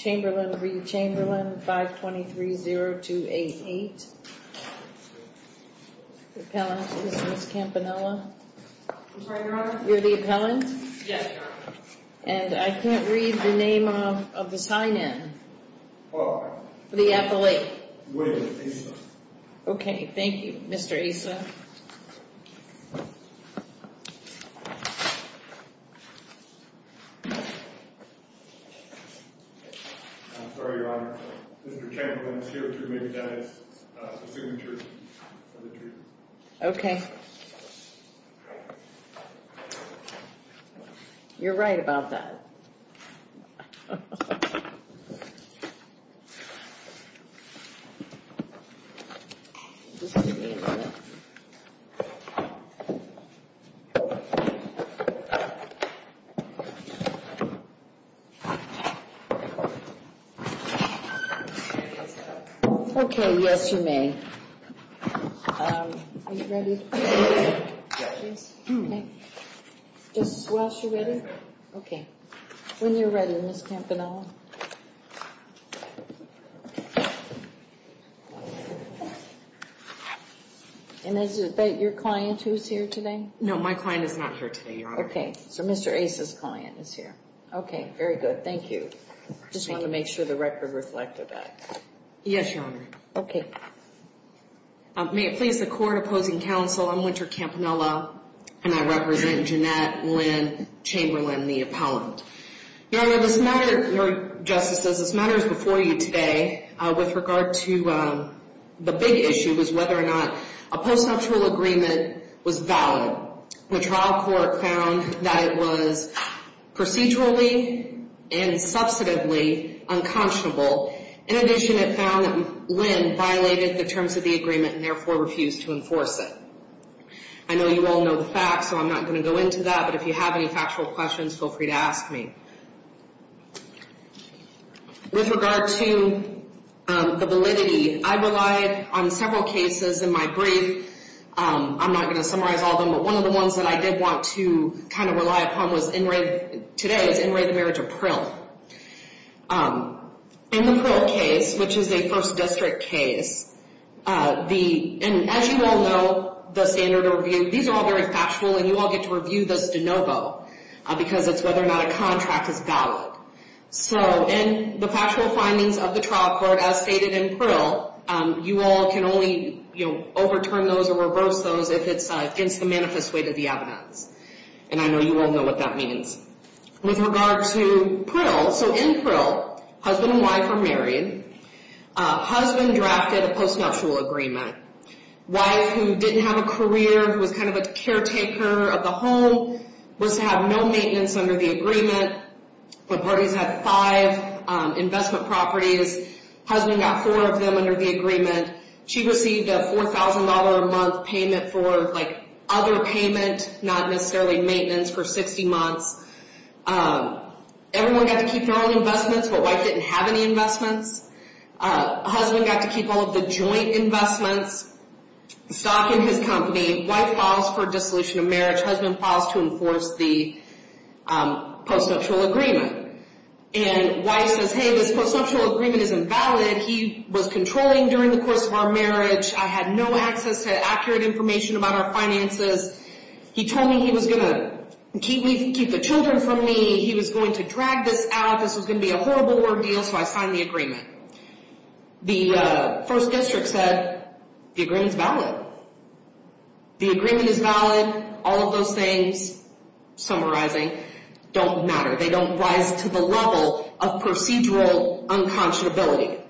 Chamberlain v. Chamberlain, 523-0288, the appellant is Ms. Campanella. I'm sorry, Your Honor? You're the appellant? Yes, Your Honor. And I can't read the name of the sign-in. For? For the appellate. William Asa. Okay, thank you, Mr. Asa. I'm sorry, Your Honor, Mr. Chamberlain is here to make that as the signature of the treaty. Okay. You're right about that. Just give me a minute. Okay, yes, you may. Are you ready? Yes. Yes? Okay. Just while she's ready? Okay. When you're ready, Ms. Campanella. And is that your client who's here today? No, my client is not here today, Your Honor. Okay, so Mr. Asa's client is here. Okay, very good. Thank you. Just wanted to make sure the record reflected that. Yes, Your Honor. Okay. May it please the court opposing counsel, I'm Winter Campanella, and I represent Jeannette Lynn Chamberlain, the appellant. Your Honor, this matter, Your Justice, as this matter is before you today, with regard to the big issue, was whether or not a post-factual agreement was valid. The trial court found that it was procedurally and substantively unconscionable. In addition, it found that Lynn violated the terms of the agreement and, therefore, refused to enforce it. I know you all know the facts, so I'm not going to go into that. But if you have any factual questions, feel free to ask me. With regard to the validity, I relied on several cases in my brief. I'm not going to summarize all of them, but one of the ones that I did want to kind of rely upon today is In Re, the Marriage of Prill. In the Prill case, which is a First District case, and as you all know, the standard of review, these are all very factual, and you all get to review this de novo because it's whether or not a contract is valid. So in the factual findings of the trial court, as stated in Prill, you all can only overturn those or reverse those if it's against the manifest way to the evidence. With regard to Prill, so in Prill, husband and wife are married. Husband drafted a post-nuptial agreement. Wife, who didn't have a career, was kind of a caretaker of the home, was to have no maintenance under the agreement. The parties had five investment properties. She received a $4,000 a month payment for like other payment, not necessarily maintenance for 60 months. Everyone had to keep their own investments, but wife didn't have any investments. Husband got to keep all of the joint investments, stock in his company. Wife files for dissolution of marriage. Husband files to enforce the post-nuptial agreement. And wife says, hey, this post-nuptial agreement isn't valid. He said he was controlling during the course of our marriage. I had no access to accurate information about our finances. He told me he was going to keep the children from me. He was going to drag this out. This was going to be a horrible ordeal, so I signed the agreement. The first district said the agreement's valid. The agreement is valid. All of those things, summarizing, don't matter. They don't rise to the level of procedural unconscionability.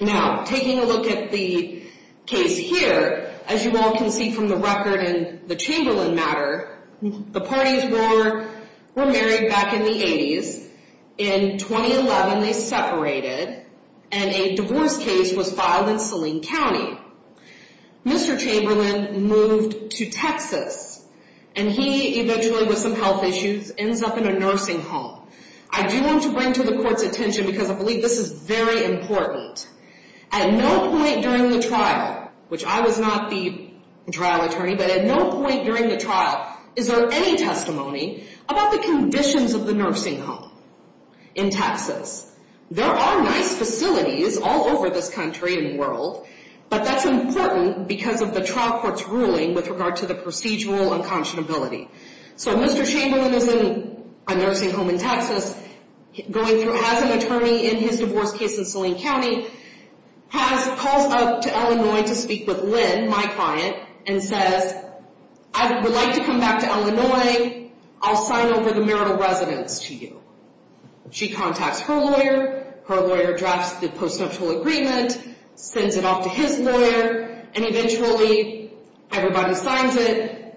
Now, taking a look at the case here, as you all can see from the record in the Chamberlain matter, the parties were married back in the 80s. In 2011, they separated, and a divorce case was filed in Saline County. Mr. Chamberlain moved to Texas, and he eventually, with some health issues, ends up in a nursing home. I do want to bring to the court's attention, because I believe this is very important, at no point during the trial, which I was not the trial attorney, but at no point during the trial is there any testimony about the conditions of the nursing home in Texas. There are nice facilities all over this country and world, but that's important because of the trial court's ruling with regard to the procedural unconscionability. So Mr. Chamberlain is in a nursing home in Texas, going through as an attorney in his divorce case in Saline County, has called up to Illinois to speak with Lynn, my client, and says, I would like to come back to Illinois. I'll sign over the marital residence to you. She contacts her lawyer, her lawyer drafts the postnuptial agreement, sends it off to his lawyer, and eventually everybody signs it,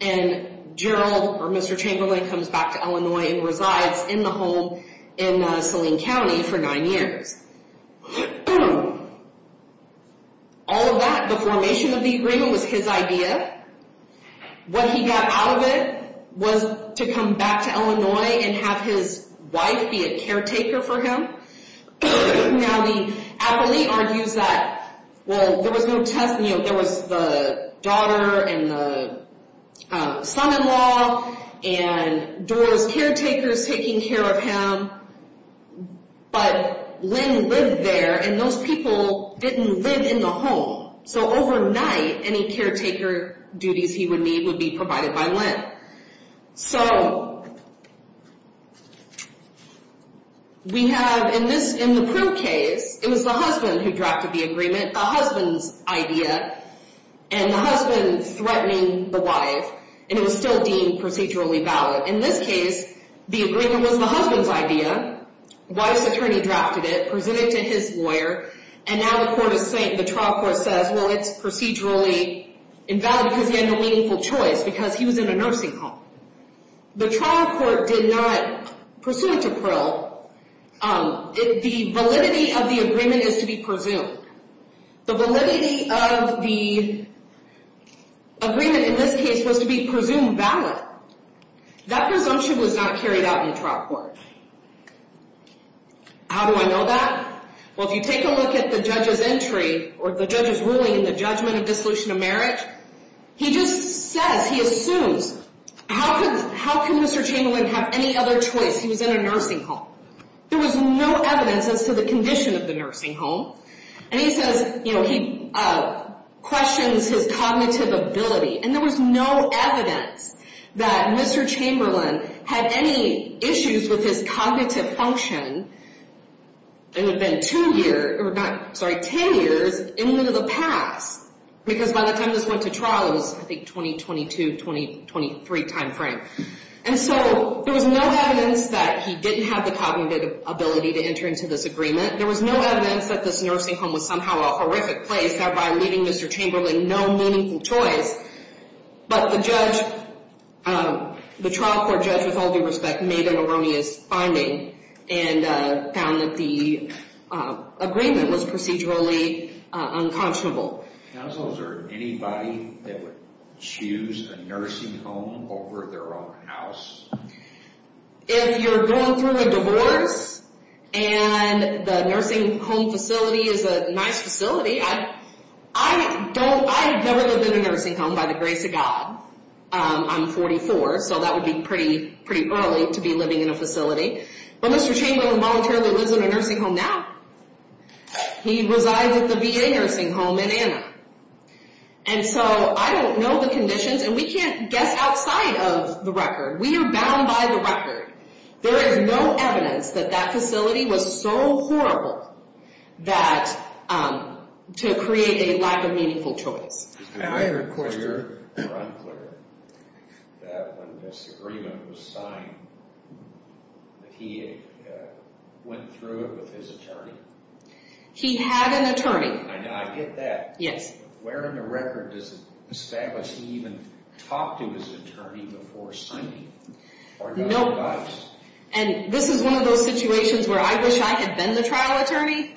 and Gerald, or Mr. Chamberlain, comes back to Illinois and resides in the home in Saline County for nine years. All of that, the formation of the agreement, was his idea. What he got out of it was to come back to Illinois and have his wife be a caretaker for him. Now the appellee argues that, well, there was no test, you know, there was the daughter and the son-in-law and Doris caretakers taking care of him, but Lynn lived there and those people didn't live in the home. So overnight, any caretaker duties he would need would be provided by Lynn. So, we have, in the proof case, it was the husband who drafted the agreement, the husband's idea, and the husband threatening the wife, and it was still deemed procedurally valid. In this case, the agreement was the husband's idea, the wife's attorney drafted it, presented it to his lawyer, and now the trial court says, well, it's procedurally invalid because he had no meaningful choice, because he was in a nursing home. The trial court did not pursue it to prill. The validity of the agreement is to be presumed. The validity of the agreement in this case was to be presumed valid. That presumption was not carried out in the trial court. How do I know that? Well, if you take a look at the judge's entry or the judge's ruling in the judgment of dissolution of marriage, he just says, he assumes, how can Mr. Chamberlain have any other choice? He was in a nursing home. There was no evidence as to the condition of the nursing home, and he says, you know, he questions his cognitive ability, and there was no evidence that Mr. Chamberlain had any issues with his cognitive function, and it had been two years, or not, sorry, ten years in lieu of the past, because by the time this went to trial, it was, I think, 2022, 2023 timeframe. And so there was no evidence that he didn't have the cognitive ability to enter into this agreement. There was no evidence that this nursing home was somehow a horrific place, thereby leaving Mr. Chamberlain no meaningful choice. But the judge, the trial court judge, with all due respect, made an erroneous finding and found that the agreement was procedurally unconscionable. Counsel, is there anybody that would choose a nursing home over their own house? If you're going through a divorce and the nursing home facility is a nice facility, I don't, I've never lived in a nursing home, by the grace of God. I'm 44, so that would be pretty early to be living in a facility. But Mr. Chamberlain voluntarily lives in a nursing home now. He resides at the VA nursing home in Anna. And so I don't know the conditions, and we can't guess outside of the record. We are bound by the record. There is no evidence that that facility was so horrible that, to create a lack of meaningful choice. Is it clear or unclear that when this agreement was signed, that he went through it with his attorney? He had an attorney. I get that. Yes. Where in the record does it establish he even talked to his attorney before signing? Nope. Or got advice? And this is one of those situations where I wish I had been the trial attorney,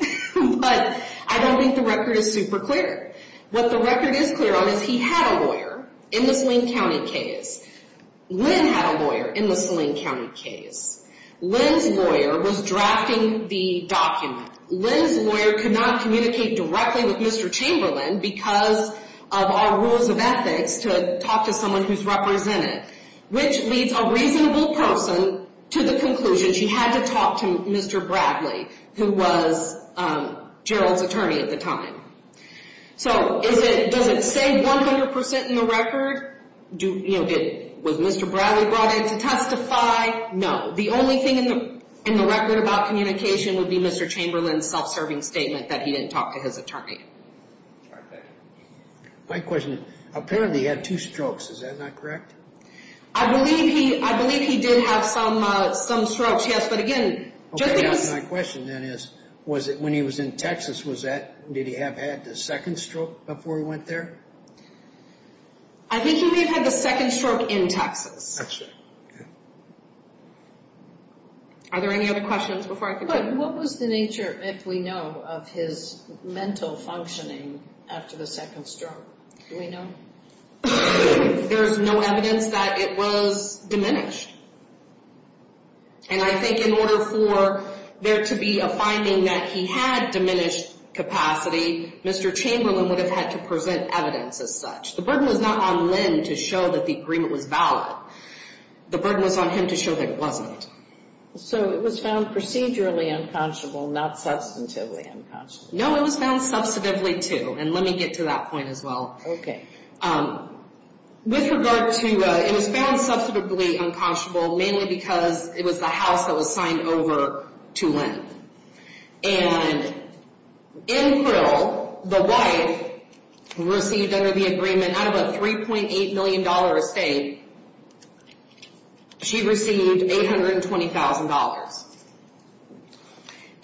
but I don't think the record is super clear. What the record is clear on is he had a lawyer in the Saline County case. Lynn had a lawyer in the Saline County case. Lynn's lawyer was drafting the document. Lynn's lawyer could not communicate directly with Mr. Chamberlain because of our rules of ethics to talk to someone who's represented, which leads a reasonable person to the conclusion she had to talk to Mr. Bradley, who was Gerald's attorney at the time. So does it say 100% in the record? Was Mr. Bradley brought in to testify? No. The only thing in the record about communication would be Mr. Chamberlain's self-serving statement that he didn't talk to his attorney. All right. Thank you. My question is apparently he had two strokes. Is that not correct? I believe he did have some strokes, yes. But, again, just because he was Okay. My question then is was it when he was in Texas, did he have had the second stroke before he went there? I think he may have had the second stroke in Texas. Actually, yeah. Are there any other questions before I continue? What was the nature, if we know, of his mental functioning after the second stroke? Do we know? There's no evidence that it was diminished. And I think in order for there to be a finding that he had diminished capacity, Mr. Chamberlain would have had to present evidence as such. The burden was not on Lynn to show that the agreement was valid. The burden was on him to show that it wasn't. So it was found procedurally unconscionable, not substantively unconscionable? No, it was found substantively, too. And let me get to that point as well. Okay. With regard to, it was found substantively unconscionable mainly because it was the house that was signed over to Lynn. And in Pruill, the wife received under the agreement out of a $3.8 million estate, she received $820,000.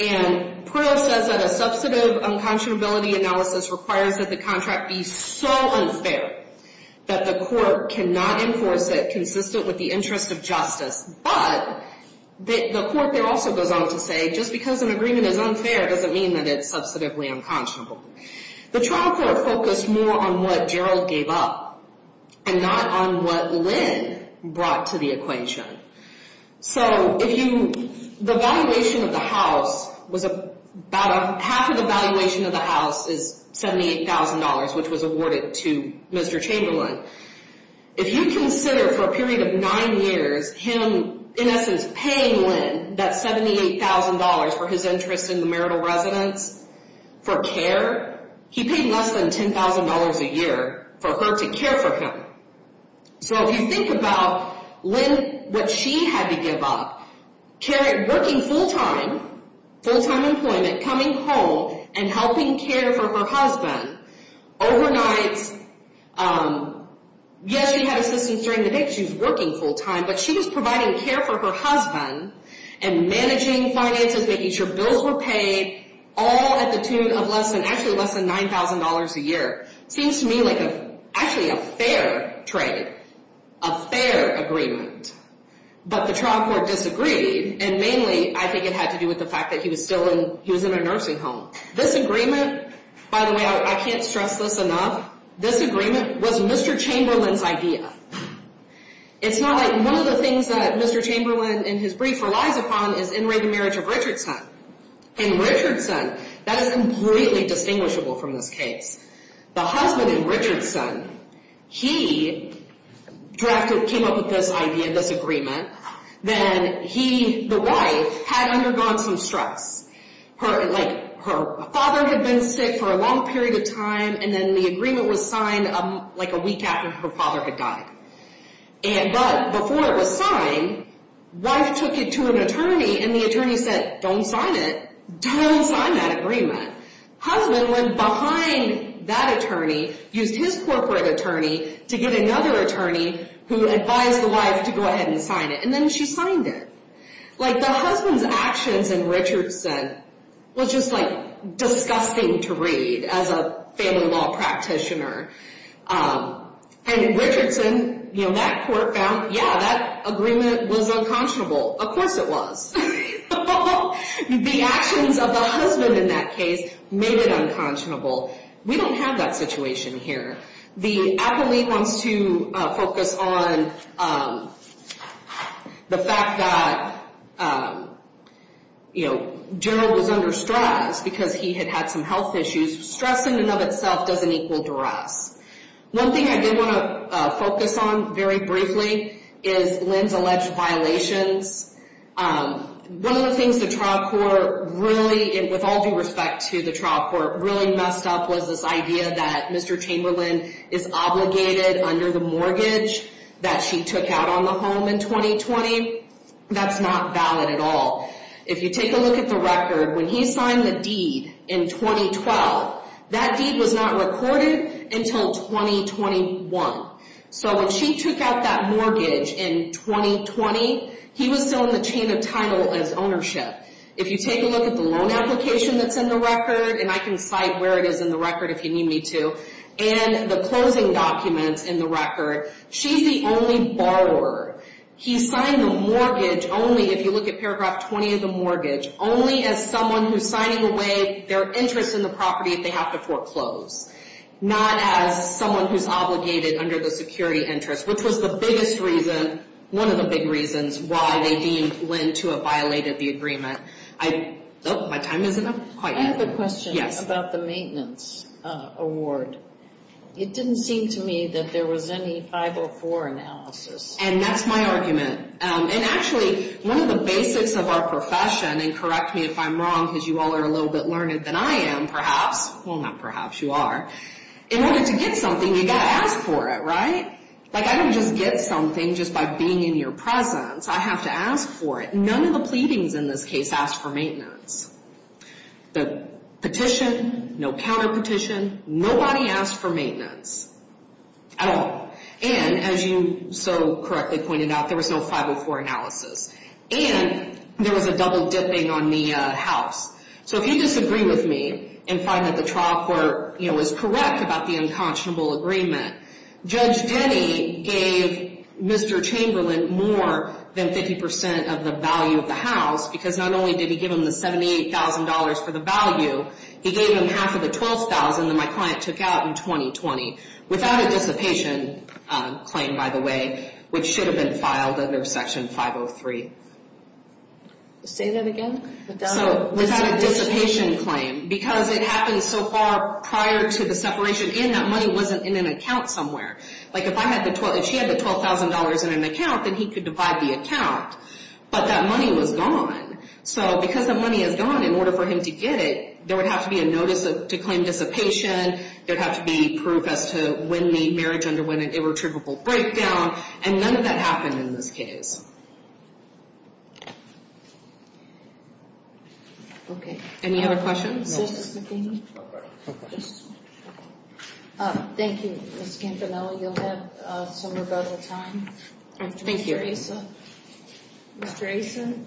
And Pruill says that a substantive unconscionability analysis requires that the contract be so unfair that the court cannot enforce it consistent with the interest of justice. But the court there also goes on to say just because an agreement is unfair doesn't mean that it's substantively unconscionable. The trial court focused more on what Gerald gave up and not on what Lynn brought to the equation. So if you, the valuation of the house was about, half of the valuation of the house is $78,000, which was awarded to Mr. Chamberlain. If you consider for a period of nine years him, in essence, paying Lynn that $78,000 for his interest in the marital residence, for care, he paid less than $10,000 a year for her to care for him. So if you think about Lynn, what she had to give up, working full-time, full-time employment, coming home, and helping care for her husband. Overnight, yes, she had assistance during the day because she was working full-time, but she was providing care for her husband and managing finances, making sure bills were paid, all at the tune of less than, actually less than $9,000 a year. Seems to me like a, actually a fair trade, a fair agreement. But the trial court disagreed, and mainly, I think it had to do with the fact that he was still in, he was in a nursing home. This agreement, by the way, I can't stress this enough, this agreement was Mr. Chamberlain's idea. It's not like, one of the things that Mr. Chamberlain, in his brief, relies upon is in-rated marriage of Richardson. In Richardson, that is completely distinguishable from this case. The husband in Richardson, he drafted, came up with this idea, this agreement, then he, the wife, had undergone some stress. Her, like, her father had been sick for a long period of time, and then the agreement was signed like a week after her father had died. And, but, before it was signed, wife took it to an attorney, and the attorney said, don't sign it. Don't sign that agreement. Husband went behind that attorney, used his corporate attorney to get another attorney who advised the wife to go ahead and sign it, and then she signed it. Like, the husband's actions in Richardson was just, like, disgusting to read as a family law practitioner. And in Richardson, you know, that court found, yeah, that agreement was unconscionable. Of course it was. The actions of the husband in that case made it unconscionable. We don't have that situation here. The appellate wants to focus on the fact that, you know, Gerald was under stress because he had had some health issues. Stress in and of itself doesn't equal duress. One thing I did want to focus on very briefly is Lynn's alleged violations. One of the things the trial court really, with all due respect to the trial court, really messed up was this idea that Mr. Chamberlain is obligated under the mortgage that she took out on the home in 2020. That's not valid at all. If you take a look at the record, when he signed the deed in 2012, that deed was not recorded until 2021. So when she took out that mortgage in 2020, he was still in the chain of title as ownership. If you take a look at the loan application that's in the record, and I can cite where it is in the record if you need me to, and the closing documents in the record, she's the only borrower. He signed the mortgage only, if you look at paragraph 20 of the mortgage, only as someone who's signing away their interest in the property if they have to foreclose. Not as someone who's obligated under the security interest, which was the biggest reason, one of the big reasons, why they deemed Lynn to have violated the agreement. My time isn't up quite yet. I have a question about the maintenance award. It didn't seem to me that there was any 504 analysis. And that's my argument. And actually, one of the basics of our profession, and correct me if I'm wrong, because you all are a little bit learned than I am, perhaps. Well, not perhaps, you are. In order to get something, you've got to ask for it, right? Like, I don't just get something just by being in your presence. I have to ask for it. None of the pleadings in this case asked for maintenance. The petition, no counterpetition, nobody asked for maintenance at all. And as you so correctly pointed out, there was no 504 analysis. And there was a double dipping on the house. So if you disagree with me and find that the trial court, you know, was correct about the unconscionable agreement, Judge Denny gave Mr. Chamberlain more than 50% of the value of the house. Because not only did he give him the $78,000 for the value, he gave him half of the $12,000 that my client took out in 2020. Without a dissipation claim, by the way, which should have been filed under Section 503. Say that again? Without a dissipation claim. Because it happened so far prior to the separation, and that money wasn't in an account somewhere. Like, if she had the $12,000 in an account, then he could divide the account. But that money was gone. So because the money is gone, in order for him to get it, there would have to be a notice to claim dissipation. There would have to be proof as to when the marriage underwent an irretrievable breakdown. And none of that happened in this case. Okay. Any other questions? Thank you, Ms. Campanella. You'll have some rebuttal time. Thank you. Mr. Asa. Mr. Asa. Thank you.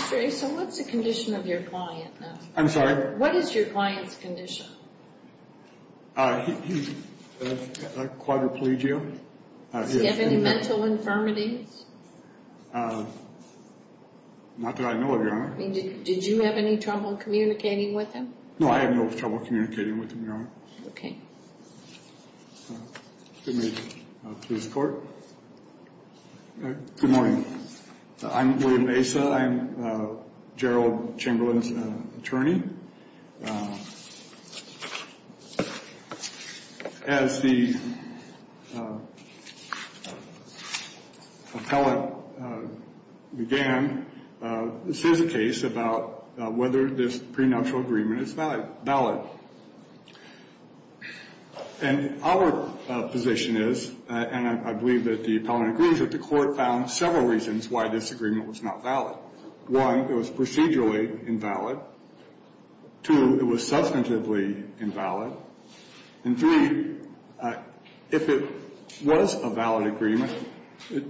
Mr. Asa, what's the condition of your client now? I'm sorry? What is your client's condition? He has quadriplegia. Does he have any mental infirmities? Not that I know of, Your Honor. Did you have any trouble communicating with him? No, I had no trouble communicating with him, Your Honor. Okay. Good morning to this Court. Good morning. I'm William Asa. I'm Gerald Chamberlain's attorney. As the appellate began, this is a case about whether this prenuptial agreement is valid. And our position is, and I believe that the appellant agrees with the Court, found several reasons why this agreement was not valid. One, it was procedurally invalid. Two, it was substantively invalid. And three, if it was a valid agreement,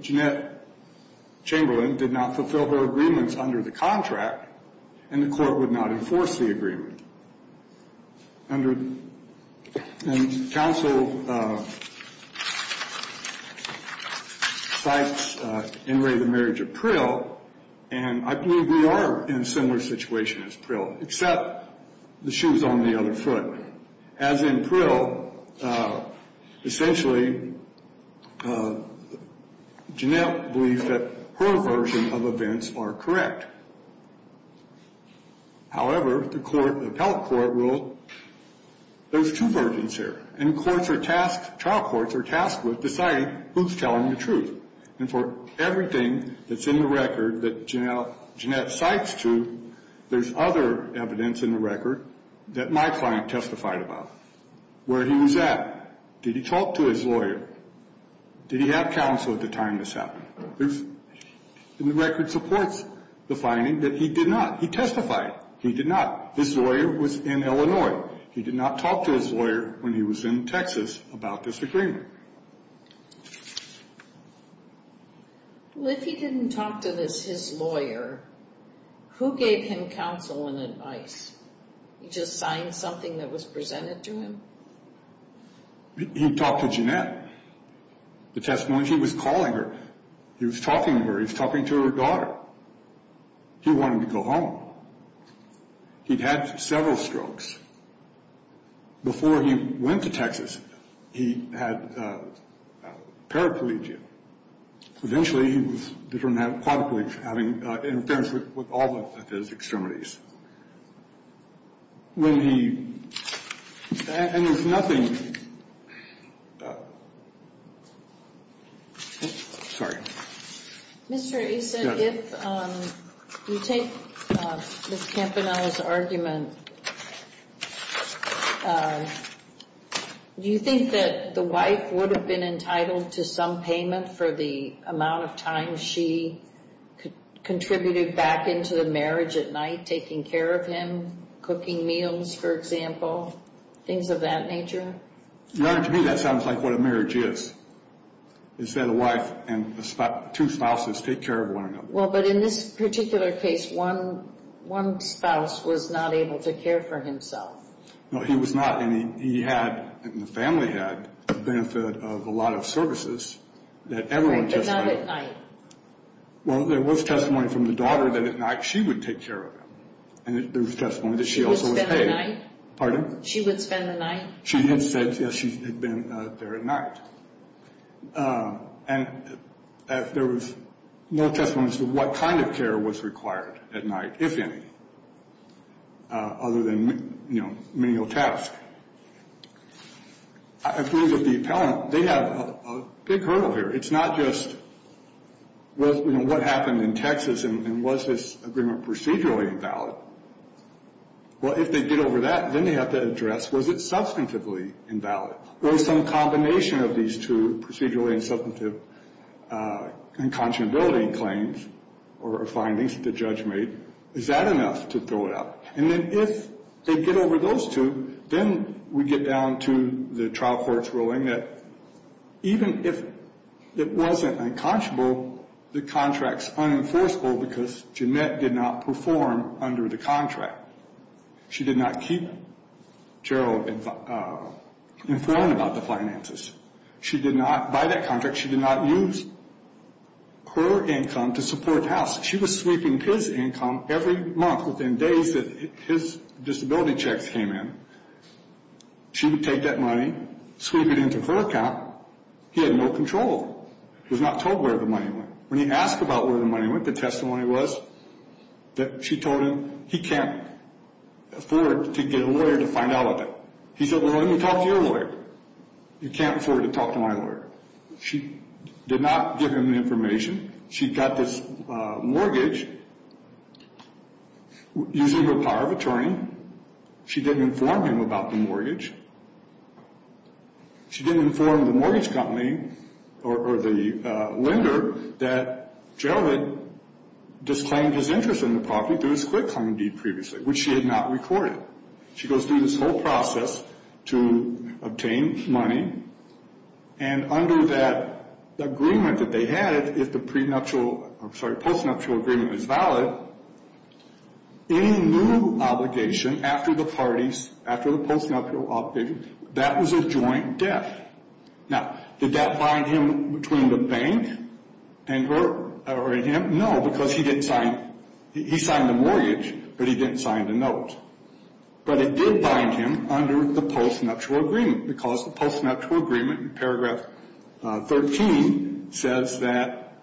Jeanette Chamberlain did not fulfill her agreements under the contract, and the Court would not enforce the agreement. And counsel cites, in Ray, the marriage of Prill, and I believe we are in a similar situation as Prill, except the shoe's on the other foot. As in Prill, essentially, Jeanette believes that her version of events are correct. However, the court, the appellate court rule, there's two versions here, and courts are tasked, trial courts are tasked with deciding who's telling the truth. And for everything that's in the record that Jeanette cites to, there's other evidence in the record that my client testified about. Where he was at. Did he talk to his lawyer? Did he have counsel at the time this happened? The record supports the finding that he did not. He testified. He did not. His lawyer was in Illinois. He did not talk to his lawyer when he was in Texas about this agreement. Well, if he didn't talk to his lawyer, who gave him counsel and advice? He just signed something that was presented to him? He talked to Jeanette. The testimony, he was calling her. He was talking to her. He was talking to her daughter. He wanted to go home. He'd had several strokes. Before he went to Texas, he had paraplegia. Eventually, he was determined to have quadriplegia, having interference with all of his extremities. When he... And there's nothing... Sorry. Mr. Asa, if you take Ms. Campanella's argument, do you think that the wife would have been entitled to some payment for the amount of time she contributed back into the marriage at night, taking care of him, cooking meals, for example, things of that nature? Your Honor, to me, that sounds like what a marriage is, is that a wife and two spouses take care of one another. Well, but in this particular case, one spouse was not able to care for himself. No, he was not. And he had, and the family had, the benefit of a lot of services that everyone just had. Right, but not at night. Well, there was testimony from the daughter that at night she would take care of him. And there was testimony that she also was paid. She would spend the night? Pardon? She would spend the night? She had said, yes, she had been there at night. And there was no testimony as to what kind of care was required at night, if any, other than, you know, manual task. I agree with the appellant. They have a big hurdle here. It's not just, well, you know, what happened in Texas, and was this agreement procedurally invalid? Well, if they get over that, then they have to address, was it substantively invalid? Was some combination of these two, procedurally and substantively, inconscionability claims or findings that the judge made, is that enough to throw it out? And then if they get over those two, then we get down to the trial court's ruling that even if it wasn't inconscionable, the contract's unenforceable because Jeanette did not perform under the contract. She did not keep Gerald informed about the finances. She did not buy that contract. She did not use her income to support the house. She was sweeping his income every month within days that his disability checks came in. She would take that money, sweep it into her account. He had no control. He was not told where the money went. When he asked about where the money went, the testimony was that she told him he can't afford to get a lawyer to find out about it. He said, well, let me talk to your lawyer. You can't afford to talk to my lawyer. She did not give him the information. She got this mortgage using her power of attorney. She didn't inform him about the mortgage. She didn't inform the mortgage company or the lender that Gerald had disclaimed his interest in the property through his quick home deed previously, which she had not recorded. She goes through this whole process to obtain money, and under that agreement that they had, if the prenuptial I'm sorry, postnuptial agreement is valid, any new obligation after the parties, after the postnuptial obligation, that was a joint debt. Now, did that bind him between the bank and her or him? No, because he didn't sign. He signed the mortgage, but he didn't sign the note. But it did bind him under the postnuptial agreement, because the postnuptial agreement in paragraph 13 says that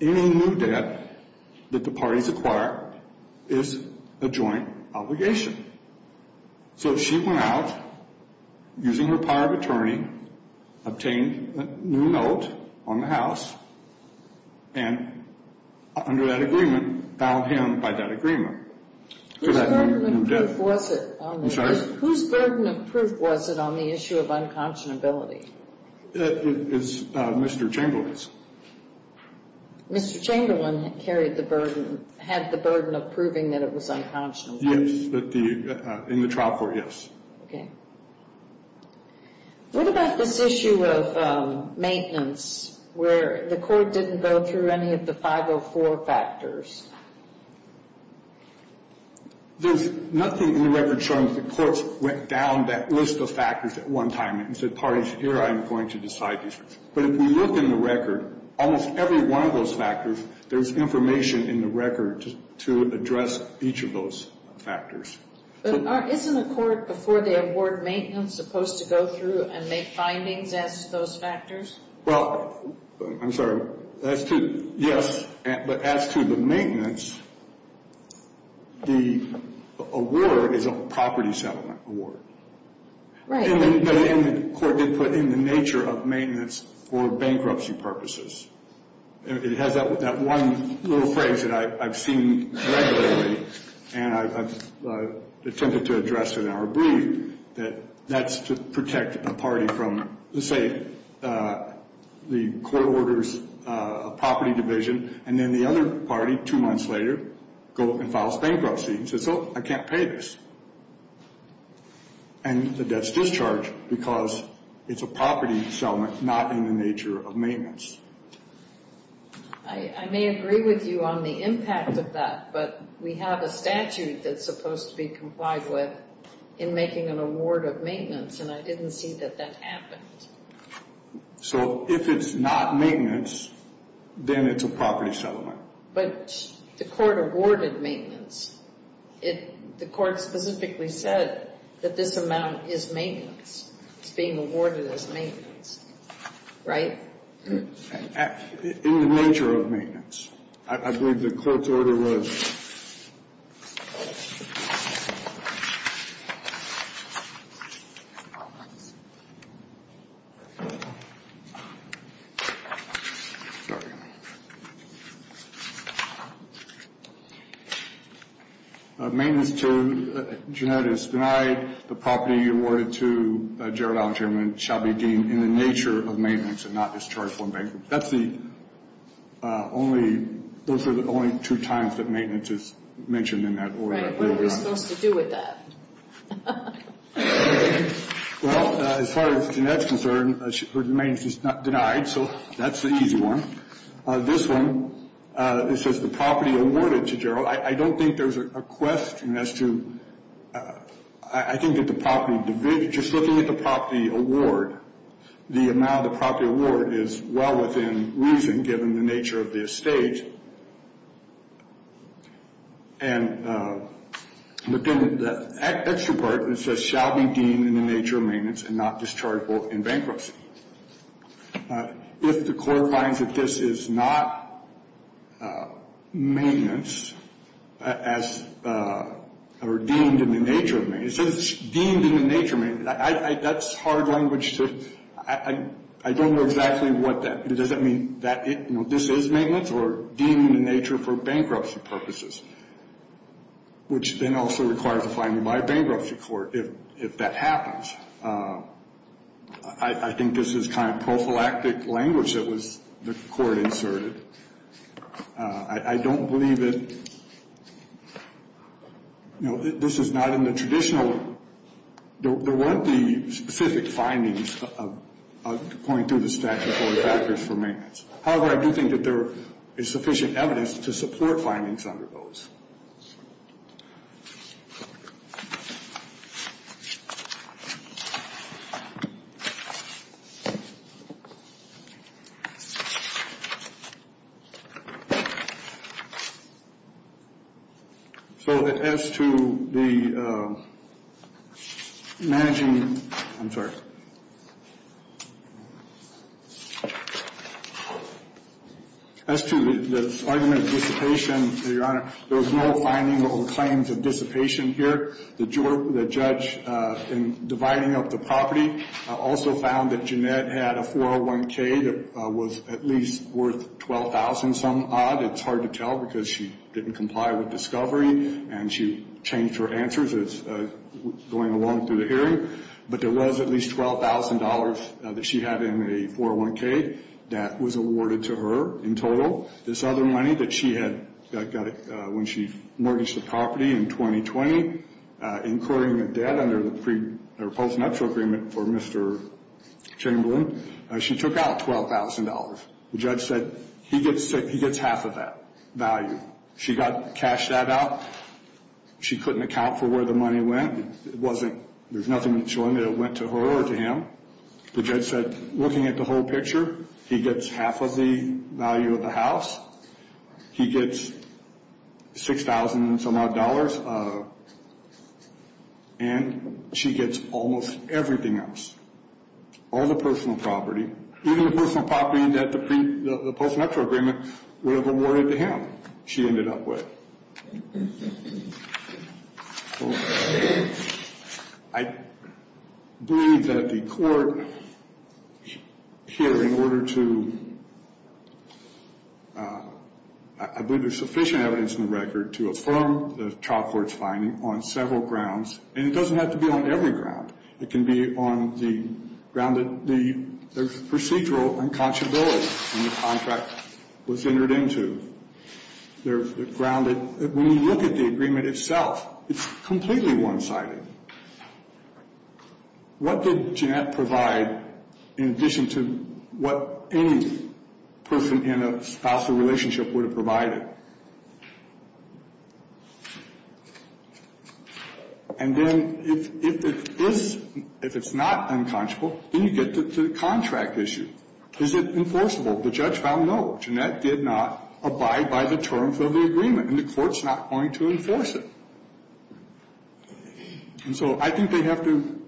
any new debt that the parties acquire is a joint obligation. So she went out, using her power of attorney, obtained a new note on the house, and under that agreement, bound him by that agreement. Whose burden of proof was it? I'm sorry? Whose burden of proof was it on the issue of unconscionability? It was Mr. Chamberlain's. Mr. Chamberlain carried the burden, had the burden of proving that it was unconscionable? Yes, in the trial court, yes. Okay. What about this issue of maintenance, where the court didn't go through any of the 504 factors? There's nothing in the record showing that the courts went down that list of factors at one time and said, parties, here, I'm going to decide these things. But if we look in the record, almost every one of those factors, there's information in the record to address each of those factors. But isn't a court, before they award maintenance, supposed to go through and make findings as to those factors? Well, I'm sorry. As to, yes, but as to the maintenance, the award is a property settlement award. Right. The court did put in the nature of maintenance for bankruptcy purposes. It has that one little phrase that I've seen regularly, and I've attempted to address it in our brief, that that's to protect a party from, let's say, the court orders a property division, and then the other party, two months later, goes and files bankruptcy, and says, oh, I can't pay this. And the debt's discharged because it's a property settlement, not in the nature of maintenance. I may agree with you on the impact of that, but we have a statute that's supposed to be complied with in making an award of maintenance, and I didn't see that that happened. So if it's not maintenance, then it's a property settlement. But the court awarded maintenance. The court specifically said that this amount is maintenance. It's being awarded as maintenance. Right? In the nature of maintenance. I believe the court's order was. Sorry. Maintenance to genetics denied, the property awarded to Gerald L. Chairman shall be deemed in the nature of maintenance and not discharged for bankruptcy. That's the only, those are the only two times that maintenance is mentioned in that order. Right. What are we supposed to do with that? Well, as far as genetics is concerned, maintenance is denied, so that's the easy one. This one, it says the property awarded to Gerald. I don't think there's a question as to, I think that the property division, just looking at the property award, the amount of the property award is well within reason, given the nature of the estate. And within the extra part, it says shall be deemed in the nature of maintenance and not discharged in bankruptcy. If the court finds that this is not maintenance, or deemed in the nature of maintenance, it says it's deemed in the nature of maintenance. That's hard language to, I don't know exactly what that, it doesn't mean that this is maintenance or deemed in the nature for bankruptcy purposes, which then also requires a fine in my bankruptcy court if that happens. I think this is kind of prophylactic language that was, the court inserted. I don't believe that, you know, this is not in the traditional, there weren't the specific findings going through the statute for factors for maintenance. However, I do think that there is sufficient evidence to support findings under those. So as to the managing, I'm sorry. As to the argument of dissipation, Your Honor, there was no finding of claims of dissipation here. The judge in dividing up the property also found that Jeanette had a 401K that was at least worth $12,000 some odd. It's hard to tell because she didn't comply with discovery, and she changed her answers as going along through the hearing. But there was at least $12,000 that she had in a 401K that was awarded to her in total. This other money that she had got when she mortgaged the property in 2020, incurring the debt under the post-nuptial agreement for Mr. Chamberlain, she took out $12,000. The judge said he gets half of that value. She got cashed that out. She couldn't account for where the money went. It wasn't, there's nothing showing that it went to her or to him. The judge said, looking at the whole picture, he gets half of the value of the house. He gets $6,000 some odd, and she gets almost everything else. All the personal property. Even the personal property that the post-nuptial agreement would have awarded to him, she ended up with. I believe that the court here in order to, I believe there's sufficient evidence in the record to affirm the child court's finding on several grounds, and it doesn't have to be on every ground. It can be on the ground that there's procedural unconscionability in the contract was entered into. There's the ground that when you look at the agreement itself, it's completely one-sided. What did Jeanette provide in addition to what any person in a spousal relationship would have provided? And then if it is, if it's not unconscionable, then you get to the contract issue. Is it enforceable? The judge found no. Jeanette did not abide by the terms of the agreement, and the court's not going to enforce it. And so I think they have to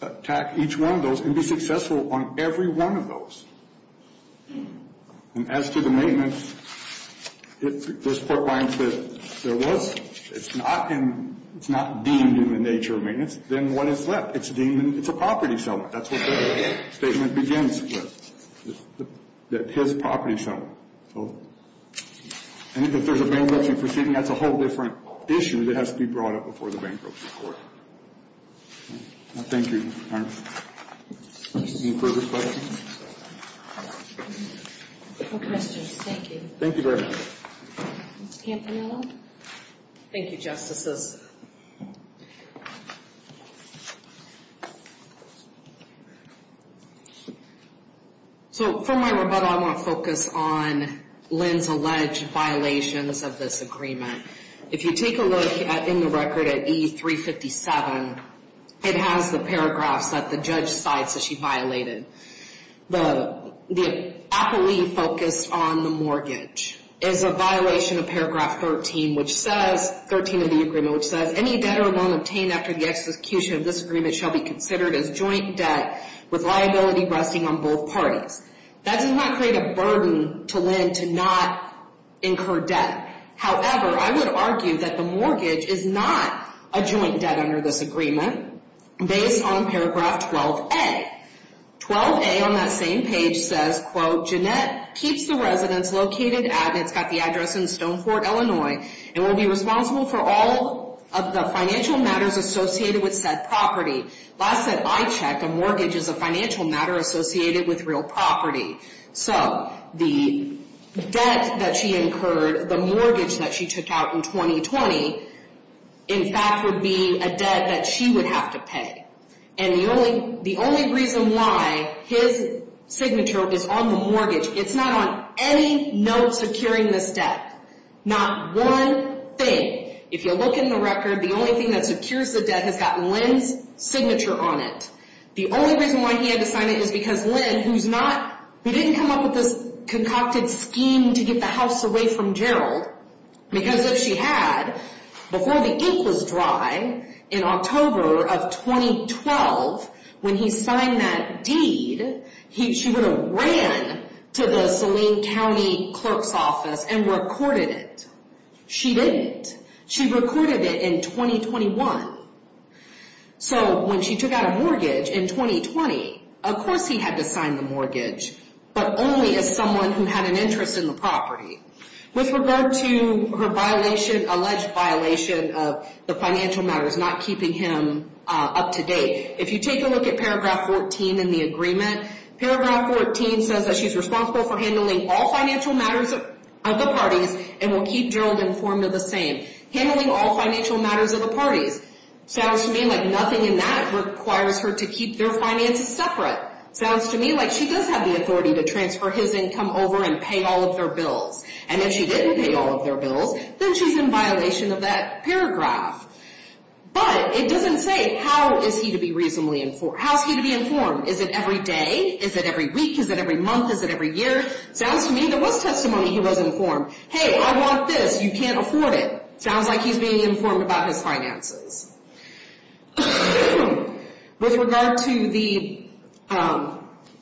attack each one of those and be successful on every one of those. And as to the maintenance, if this court finds that there was, it's not in, it's not deemed in the nature of maintenance, then what is left? It's deemed, it's a property settlement. That's what the statement begins with, that his property settlement. And if there's a bankruptcy proceeding, that's a whole different issue that has to be brought up before the bankruptcy court. Thank you, Your Honor. Any further questions? No questions. Thank you. Thank you very much. Ms. Campanello? Thank you, Justices. So for my rebuttal, I want to focus on Lynn's alleged violations of this agreement. If you take a look in the record at E357, it has the paragraphs that the judge cites that she violated. The appellee focused on the mortgage. It's a violation of paragraph 13, which says, 13 of the agreement, which says, any debtor won't obtain after the execution of this agreement shall be considered as joint debt with liability resting on both parties. That does not create a burden to Lynn to not incur debt. However, I would argue that the mortgage is not a joint debt under this agreement based on paragraph 12A. 12A on that same page says, quote, Jeannette keeps the residence located at, it's got the address in Stoneport, Illinois, and will be responsible for all of the financial matters associated with said property. Last that I checked, a mortgage is a financial matter associated with real property. So the debt that she incurred, the mortgage that she took out in 2020, in fact, would be a debt that she would have to pay. And the only reason why his signature is on the mortgage, it's not on any note securing this debt. Not one thing. If you look in the record, the only thing that secures the debt has got Lynn's signature on it. The only reason why he had to sign it is because Lynn, who's not, who didn't come up with this concocted scheme to get the house away from Gerald, because if she had, before the ink was dry, in October of 2012, when he signed that deed, she would have ran to the Saline County clerk's office and recorded it. She didn't. She recorded it in 2021. So when she took out a mortgage in 2020, of course he had to sign the mortgage, but only as someone who had an interest in the property. With regard to her violation, alleged violation of the financial matters not keeping him up to date, if you take a look at paragraph 14 in the agreement, paragraph 14 says that she's responsible for handling all financial matters of the parties and will keep Gerald informed of the same. Handling all financial matters of the parties. Sounds to me like nothing in that requires her to keep their finances separate. Sounds to me like she does have the authority to transfer his income over and pay all of their bills, and if she didn't pay all of their bills, then she's in violation of that paragraph. But it doesn't say how is he to be reasonably informed. How's he to be informed? Is it every day? Is it every week? Is it every month? Is it every year? Sounds to me there was testimony he was informed. Hey, I want this. You can't afford it. Sounds like he's being informed about his finances. With regard to the, you know,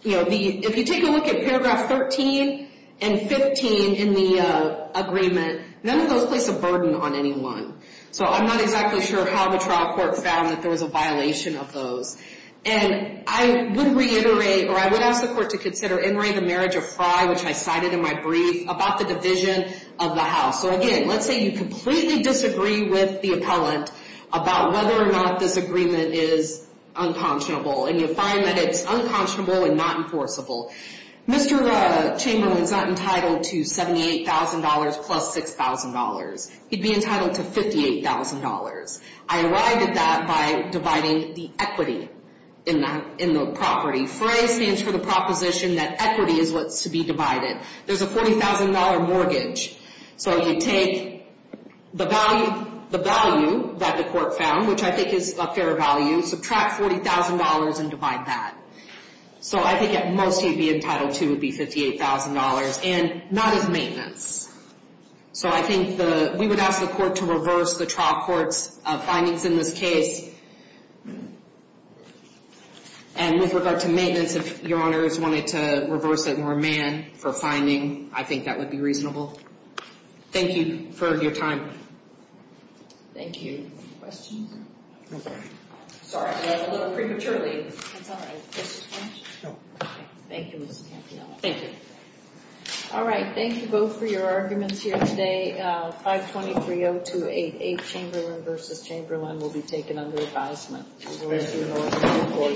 the, if you take a look at paragraph 13 and 15 in the agreement, none of those place a burden on anyone. So I'm not exactly sure how the trial court found that there was a violation of those. And I would reiterate, or I would ask the court to consider entering the marriage of Frye, which I cited in my brief, about the division of the house. So, again, let's say you completely disagree with the appellant about whether or not this agreement is unconscionable, and you find that it's unconscionable and not enforceable. Mr. Chamberlain's not entitled to $78,000 plus $6,000. He'd be entitled to $58,000. I arrived at that by dividing the equity in the property. Frye stands for the proposition that equity is what's to be divided. There's a $40,000 mortgage. So you take the value that the court found, which I think is a fair value, subtract $40,000 and divide that. So I think it mostly would be entitled to would be $58,000, and not as maintenance. So I think the, we would ask the court to reverse the trial court's findings in this case. And with regard to maintenance, if Your Honors wanted to reverse it more man for finding, I think that would be reasonable. Thank you for your time. Thank you. Questions? No questions. Sorry, I went a little prematurely. It's all right. No. Thank you, Ms. Campione. Thank you. All right. Thank you both for your arguments here today. 523-0288, Chamberlain v. Chamberlain will be taken under advisement.